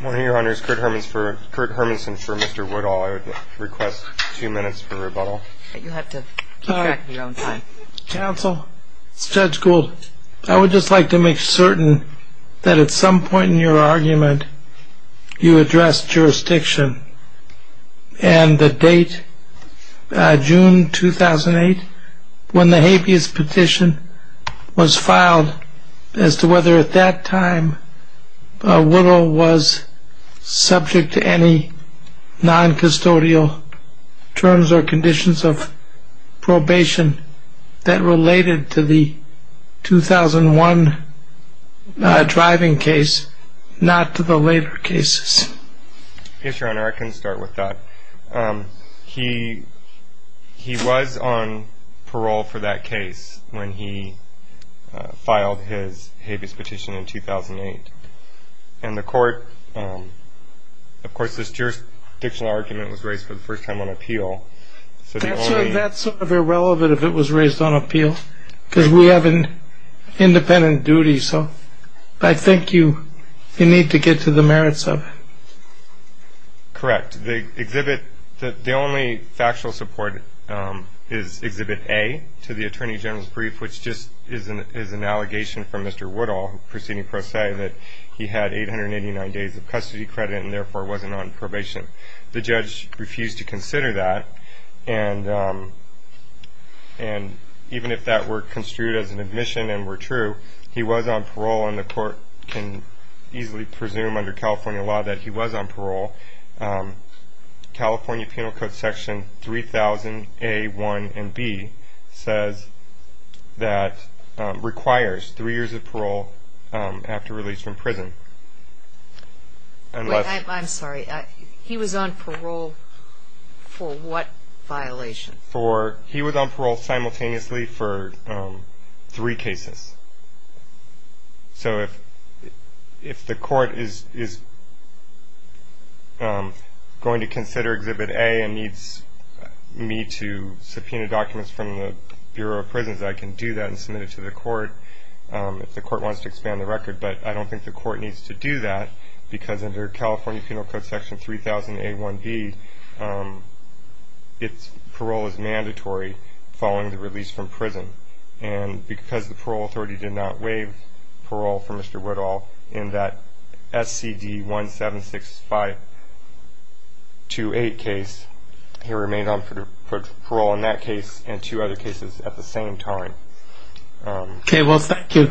One of your Honours, Kurt Hermanson for Mr. Woodall. I would request two minutes for rebuttal. You'll have to keep track of your own time. Counsel, Judge Gould, I would just like to make certain that at some point in your argument you addressed jurisdiction. And the date, June 2008, when the habeas petition was filed as to whether at that time Woodall was subject to any non-custodial terms or conditions of probation that related to the 2001 driving case, not to the later cases. Yes, Your Honour, I can start with that. He was on parole for that case when he filed his habeas petition in 2008. And the court, of course this jurisdictional argument was raised for the first time on appeal. That's sort of irrelevant if it was raised on appeal, because we have an independent duty, so I think you need to get to the merits of it. Correct. The only factual support is Exhibit A to the Attorney General's brief, which just is an allegation from Mr. Woodall, proceeding pro se, that he had 889 days of custody credit and therefore wasn't on probation. The judge refused to consider that, and even if that were construed as an admission and were true, he was on parole and the court can easily presume under California law that he was on parole. California Penal Code Section 3000A, 1, and B says that requires 3 years of parole after release from prison. I'm sorry, he was on parole for what violation? He was on parole simultaneously for 3 cases. So if the court is going to consider Exhibit A and needs me to subpoena documents from the Bureau of Prisons, I can do that and submit it to the court. If the court wants to expand the record, but I don't think the court needs to do that, because under California Penal Code Section 3000A, 1, B, parole is mandatory following the release from prison. And because the parole authority did not waive parole for Mr. Woodall in that SCD 176528 case, he remained on parole in that case and 2 other cases at the same time. Okay, well thank you.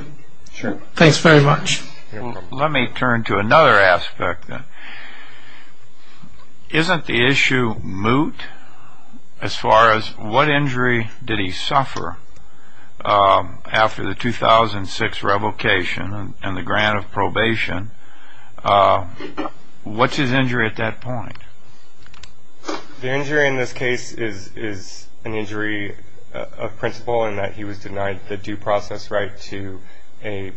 Sure. Thanks very much. You're welcome. Let me turn to another aspect. Isn't the issue moot as far as what injury did he suffer after the 2006 revocation and the grant of probation? What's his injury at that point? The injury in this case is an injury of principle in that he was denied the due process right to a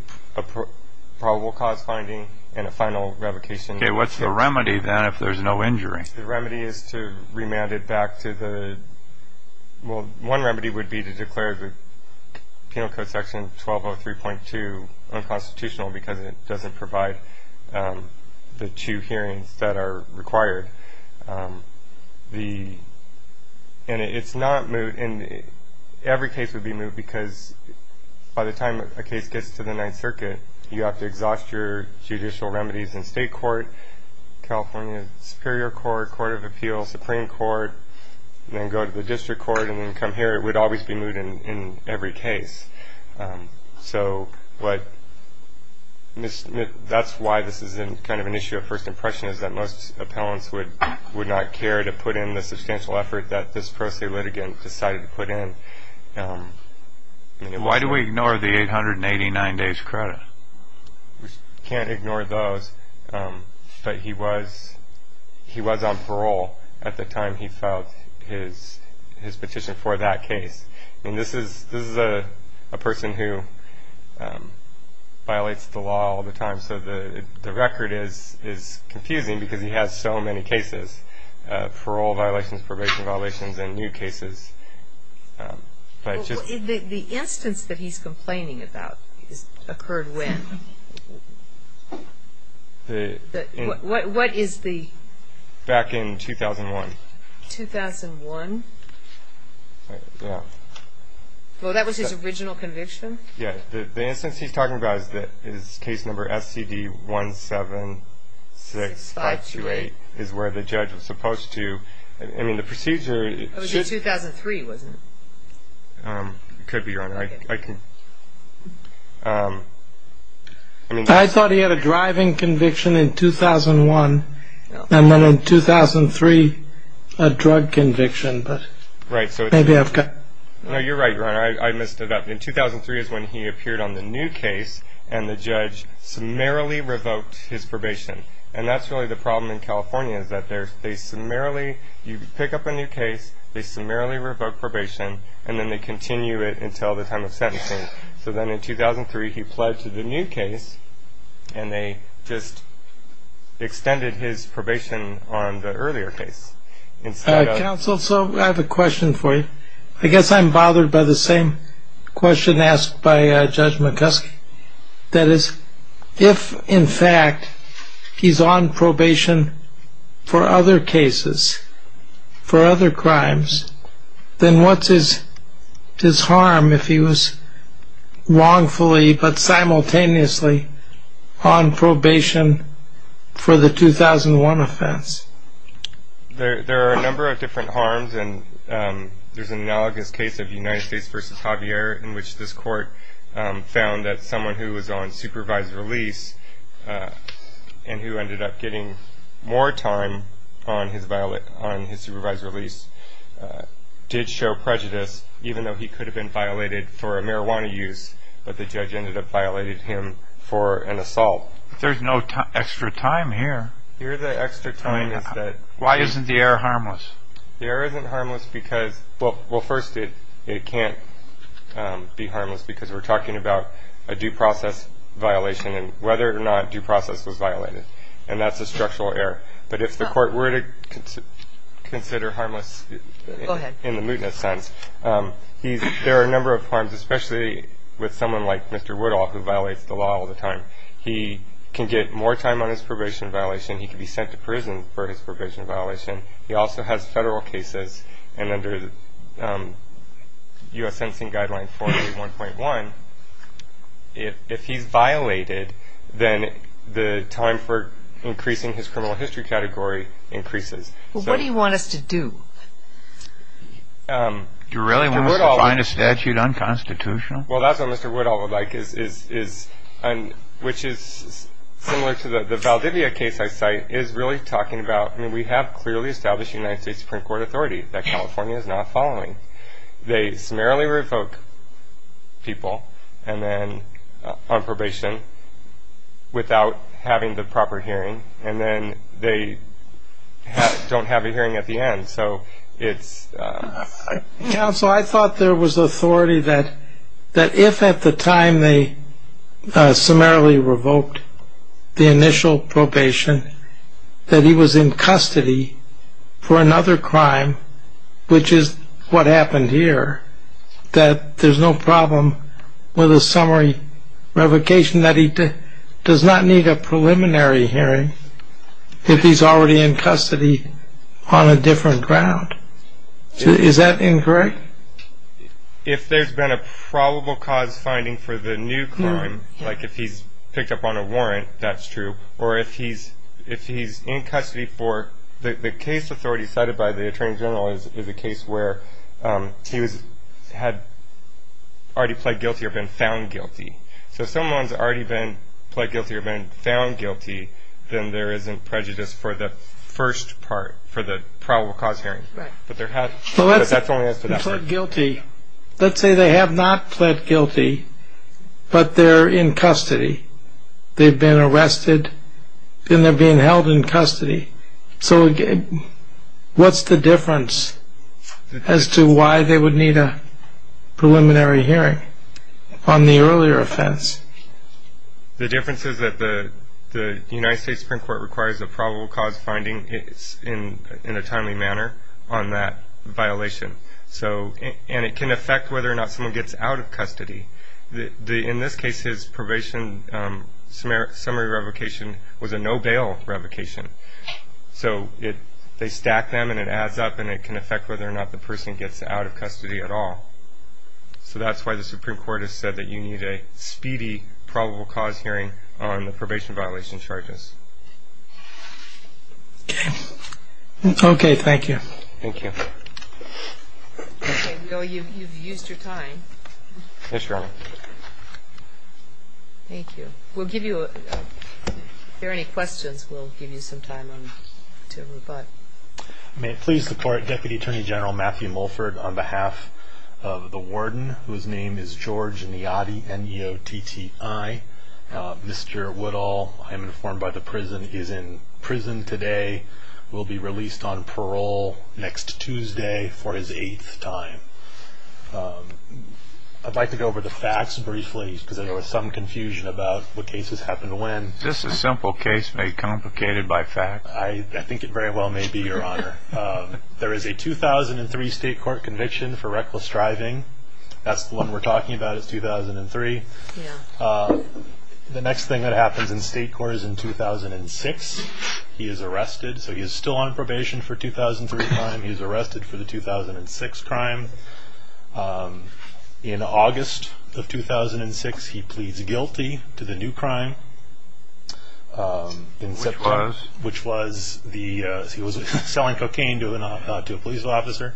probable cause finding and a final revocation. Okay, what's the remedy then if there's no injury? The remedy is to remand it back to the – well, one remedy would be to declare the Penal Code Section 1203.2 unconstitutional because it doesn't provide the two hearings that are required. And it's not moot. Every case would be moot because by the time a case gets to the Ninth Circuit, you have to exhaust your judicial remedies in state court, California Superior Court, Court of Appeals, Supreme Court, and then go to the district court and then come here. It would always be moot in every case. So that's why this is kind of an issue of first impression is that most appellants would not care to put in the substantial effort that this pro se litigant decided to put in. Why do we ignore the 889 days credit? We can't ignore those, but he was on parole at the time he filed his petition for that case. And this is a person who violates the law all the time, so the record is confusing because he has so many cases, parole violations, probation violations, and new cases. The instance that he's complaining about occurred when? What is the? Back in 2001. 2001? Yeah. Well, that was his original conviction? Yeah. The instance he's talking about is case number SCD176528 is where the judge was supposed to. I mean, the procedure. It was in 2003, wasn't it? It could be, Your Honor. I thought he had a driving conviction in 2001 and then in 2003 a drug conviction, but maybe I've got. No, you're right, Your Honor. I missed it up. In 2003 is when he appeared on the new case, and the judge summarily revoked his probation. And that's really the problem in California is that they summarily, you pick up a new case, they summarily revoke probation, and then they continue it until the time of sentencing. So then in 2003 he pledged to the new case, and they just extended his probation on the earlier case. Counsel, so I have a question for you. I guess I'm bothered by the same question asked by Judge McGuskey. That is, if, in fact, he's on probation for other cases, for other crimes, then what's his harm if he was wrongfully but simultaneously on probation for the 2001 offense? There are a number of different harms, and there's an analogous case of United States v. Javier in which this court found that someone who was on supervised release and who ended up getting more time on his supervised release did show prejudice even though he could have been violated for a marijuana use, but the judge ended up violating him for an assault. There's no extra time here. Here the extra time is that... Why isn't the error harmless? The error isn't harmless because, well, first, it can't be harmless because we're talking about a due process violation and whether or not due process was violated, and that's a structural error. But if the court were to consider harmless in the mootness sense, there are a number of harms, especially with someone like Mr. Woodall who violates the law all the time. He can get more time on his probation violation. He can be sent to prison for his probation violation. He also has federal cases, and under U.S. Sentencing Guideline 481.1, if he's violated, then the time for increasing his criminal history category increases. Well, what do you want us to do? Do you really want us to find a statute unconstitutional? Well, that's what Mr. Woodall would like, which is similar to the Valdivia case I cite, is really talking about we have clearly established United States Supreme Court authority that California is not following. They summarily revoke people on probation without having the proper hearing, and then they don't have a hearing at the end, so it's... Counsel, I thought there was authority that if at the time they summarily revoked the initial probation, that he was in custody for another crime, which is what happened here, that there's no problem with a summary revocation, that he does not need a preliminary hearing if he's already in custody on a different ground. Is that incorrect? If there's been a probable cause finding for the new crime, like if he's picked up on a warrant, that's true, or if he's in custody for... The case authority cited by the Attorney General is a case where he had already pled guilty or been found guilty. So if someone's already been pled guilty or been found guilty, then there isn't prejudice for the first part, for the probable cause hearing. Right. But there has... But that's only as for that part. Pled guilty. Let's say they have not pled guilty, but they're in custody. They've been arrested, and they're being held in custody. So what's the difference as to why they would need a preliminary hearing on the earlier offense? The difference is that the United States Supreme Court requires a probable cause finding in a timely manner on that violation. And it can affect whether or not someone gets out of custody. In this case, his probation summary revocation was a no-bail revocation. So they stack them, and it adds up, and it can affect whether or not the person gets out of custody at all. So that's why the Supreme Court has said that you need a speedy probable cause hearing on the probation violation charges. Okay. Thank you. Thank you. Okay. Well, you've used your time. Yes, Your Honor. Thank you. We'll give you a... If there are any questions, we'll give you some time to rebut. May it please the Court, Deputy Attorney General Matthew Mulford, on behalf of the warden, whose name is George Niotti, Mr. Woodall, I am informed by the prison, is in prison today, will be released on parole next Tuesday for his eighth time. I'd like to go over the facts briefly because there was some confusion about what cases happen when. Just a simple case made complicated by facts. I think it very well may be, Your Honor. There is a 2003 state court conviction for reckless driving. That's the one we're talking about is 2003. The next thing that happens in state court is in 2006. He is arrested. So he is still on probation for 2003 crime. He is arrested for the 2006 crime. In August of 2006, he pleads guilty to the new crime. Which was? Which was he was selling cocaine to a police officer.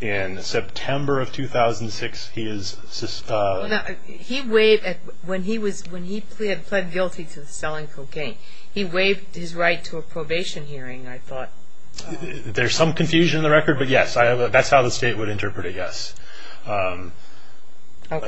In September of 2006, he is... He waived, when he had pled guilty to selling cocaine, he waived his right to a probation hearing, I thought. There's some confusion in the record, but yes, that's how the state would interpret it, yes.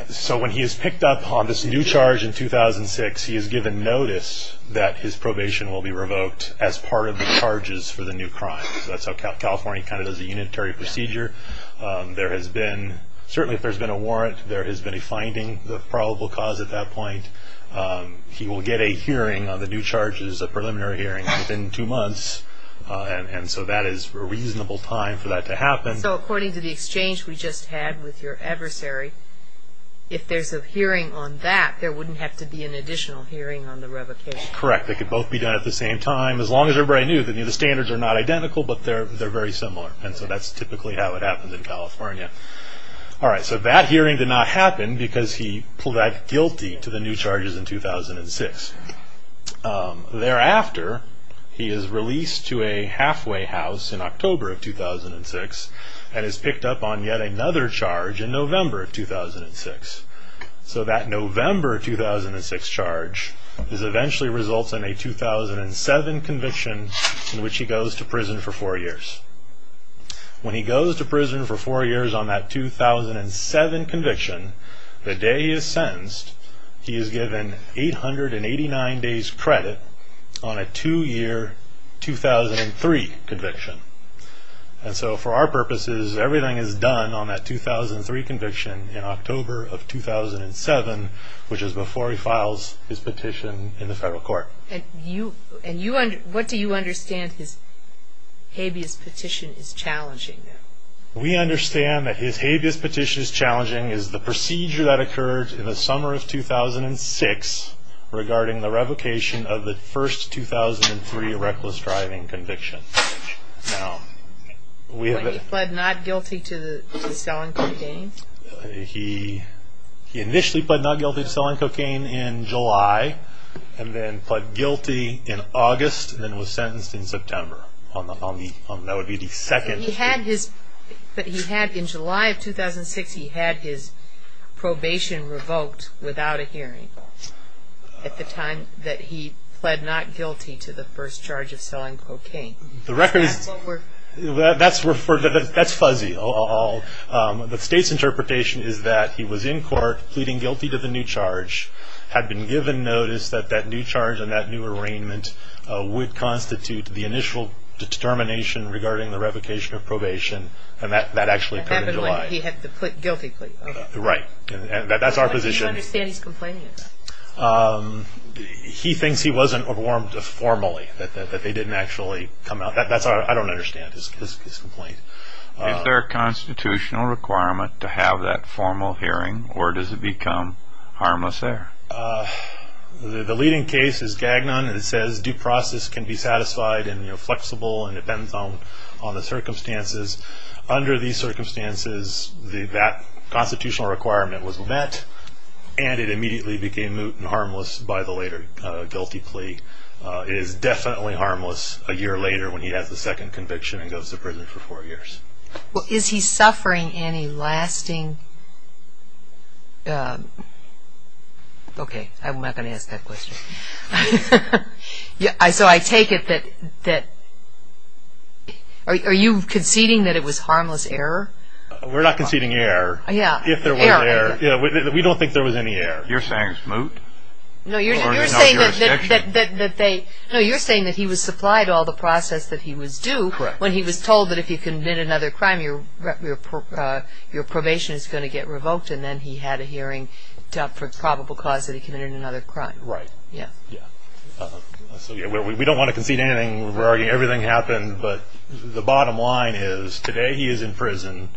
So when he is picked up on this new charge in 2006, he is given notice that his probation will be revoked as part of the charges for the new crime. That's how California kind of does a unitary procedure. There has been, certainly if there's been a warrant, there has been a finding, the probable cause at that point. He will get a hearing on the new charges, a preliminary hearing, within two months. So according to the exchange we just had with your adversary, if there's a hearing on that, there wouldn't have to be an additional hearing on the revocation? Correct. They could both be done at the same time. As long as everybody knew that the standards are not identical, but they're very similar. And so that's typically how it happens in California. All right, so that hearing did not happen because he pled guilty to the new charges in 2006. Thereafter, he is released to a halfway house in October of 2006 and is picked up on yet another charge in November of 2006. So that November 2006 charge eventually results in a 2007 conviction in which he goes to prison for four years. When he goes to prison for four years on that 2007 conviction, the day he is sentenced, he is given 889 days credit on a two-year 2003 conviction. And so for our purposes, everything is done on that 2003 conviction in October of 2007, which is before he files his petition in the federal court. And what do you understand his habeas petition is challenging? We understand that his habeas petition is challenging is the procedure that occurred in the summer of 2006 regarding the revocation of the first 2003 reckless driving conviction. But he pled not guilty to selling cocaine? He initially pled not guilty to selling cocaine in July and then pled guilty in August and then was sentenced in September. But in July of 2006, he had his probation revoked without a hearing at the time that he pled not guilty to the first charge of selling cocaine. That's fuzzy. The state's interpretation is that he was in court pleading guilty to the new charge, which had been given notice that that new charge and that new arraignment would constitute the initial determination regarding the revocation of probation, and that actually occurred in July. That happened when he had pled guilty. Right. That's our position. How do you understand he's complaining about that? He thinks he wasn't overwhelmed formally, that they didn't actually come out. I don't understand his complaint. Is there a constitutional requirement to have that formal hearing, or does it become harmless there? The leading case is Gagnon. It says due process can be satisfied and flexible and depends on the circumstances. Under these circumstances, that constitutional requirement was met, and it immediately became moot and harmless by the later guilty plea. It is definitely harmless a year later when he has the second conviction and goes to prison for four years. Is he suffering any lasting... Okay, I'm not going to ask that question. So I take it that... Are you conceding that it was harmless error? We're not conceding error. Error. We don't think there was any error. You're saying moot? No, you're saying that he was supplied all the process that he was due when he was told that if he committed another crime, your probation is going to get revoked, and then he had a hearing for probable cause that he committed another crime. Right. Yeah. We don't want to concede anything. We're arguing everything happened, but the bottom line is today he is in prison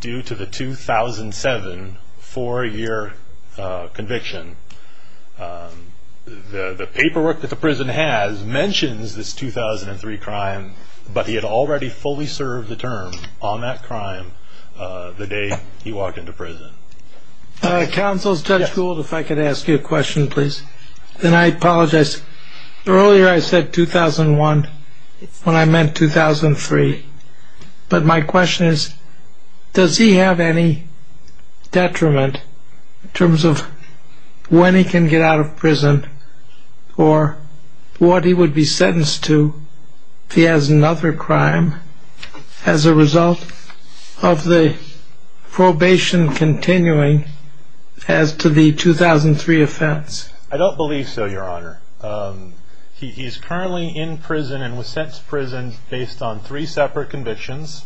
due to the 2007 four-year conviction. The paperwork that the prison has mentions this 2003 crime, but he had already fully served the term on that crime the day he walked into prison. Counsel, Judge Gould, if I could ask you a question, please. And I apologize. Earlier I said 2001 when I meant 2003. But my question is, does he have any detriment in terms of when he can get out of prison or what he would be sentenced to if he has another crime as a result of the probation continuing as to the 2003 offense? I don't believe so, Your Honor. He is currently in prison and was sent to prison based on three separate convictions.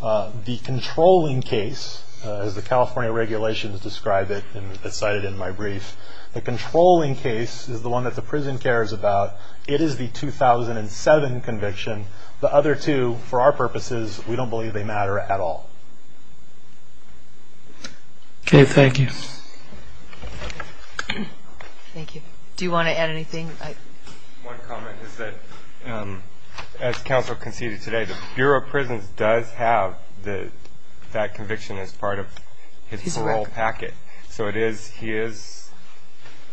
The controlling case, as the California regulations describe it and it's cited in my brief, the controlling case is the one that the prison cares about. It is the 2007 conviction. The other two, for our purposes, we don't believe they matter at all. Okay. Thank you. Thank you. Do you want to add anything? One comment is that as counsel conceded today, the Bureau of Prisons does have that conviction as part of his parole packet. So it is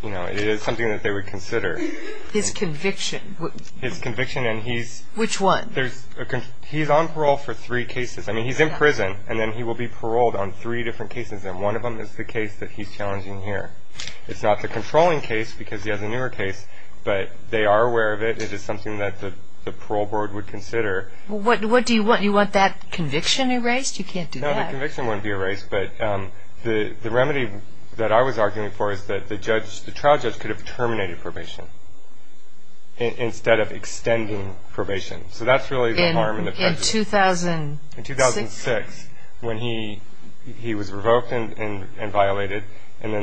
something that they would consider. His conviction? His conviction and he's- Which one? He's on parole for three cases. I mean, he's in prison and then he will be paroled on three different cases, and one of them is the case that he's challenging here. It's not the controlling case because he has a newer case, but they are aware of it. It is something that the parole board would consider. What do you want? You want that conviction erased? You can't do that. No, the conviction wouldn't be erased, but the remedy that I was arguing for is that the trial judge could have terminated probation instead of extending probation. So that's really the harm and the prejudice. In 2006? In 2006, when he was revoked and violated, and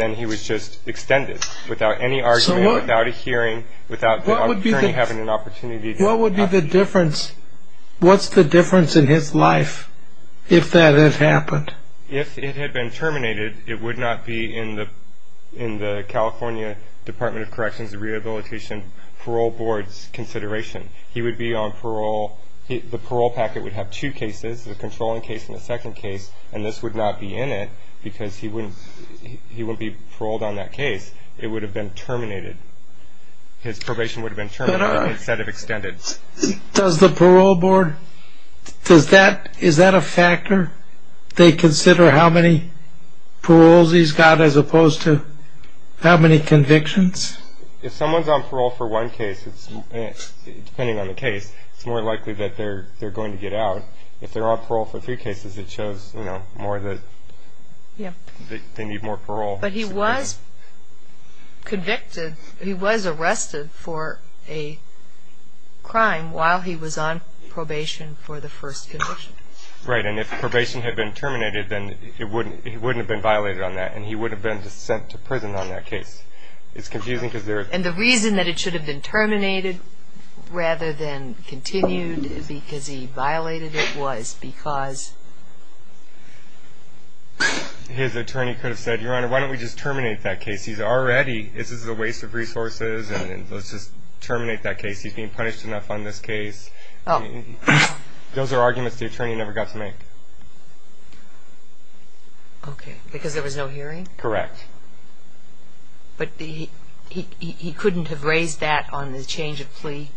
then he was just extended without any argument, without a hearing, without the attorney having an opportunity to- What would be the difference? What's the difference in his life if that had happened? If it had been terminated, it would not be in the California Department of Corrections and Rehabilitation Parole Board's consideration. He would be on parole. The parole packet would have two cases, the controlling case and the second case, and this would not be in it because he wouldn't be paroled on that case. It would have been terminated. His probation would have been terminated instead of extended. Does the parole board, is that a factor? They consider how many paroles he's got as opposed to how many convictions? If someone's on parole for one case, depending on the case, it's more likely that they're going to get out. If they're on parole for three cases, it shows more that they need more parole. But he was convicted, he was arrested for a crime while he was on probation for the first conviction. Right, and if probation had been terminated, then he wouldn't have been violated on that and he wouldn't have been sent to prison on that case. It's confusing because there is... And the reason that it should have been terminated rather than continued because he violated it was because... His attorney could have said, Your Honor, why don't we just terminate that case? He's already, this is a waste of resources and let's just terminate that case. He's being punished enough on this case. Those are arguments the attorney never got to make. Okay, because there was no hearing? Correct. But he couldn't have raised that on the change of plea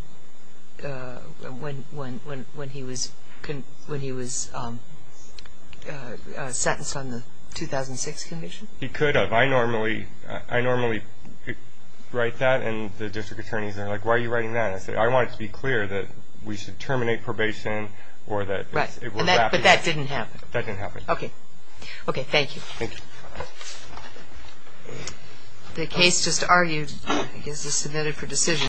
when he was sentenced on the 2006 conviction? He could have. I normally write that and the district attorneys are like, Why are you writing that? And I say, I want it to be clear that we should terminate probation or that... But that didn't happen? That didn't happen. Okay. Okay, thank you. Thank you. The case just argued is submitted for decision.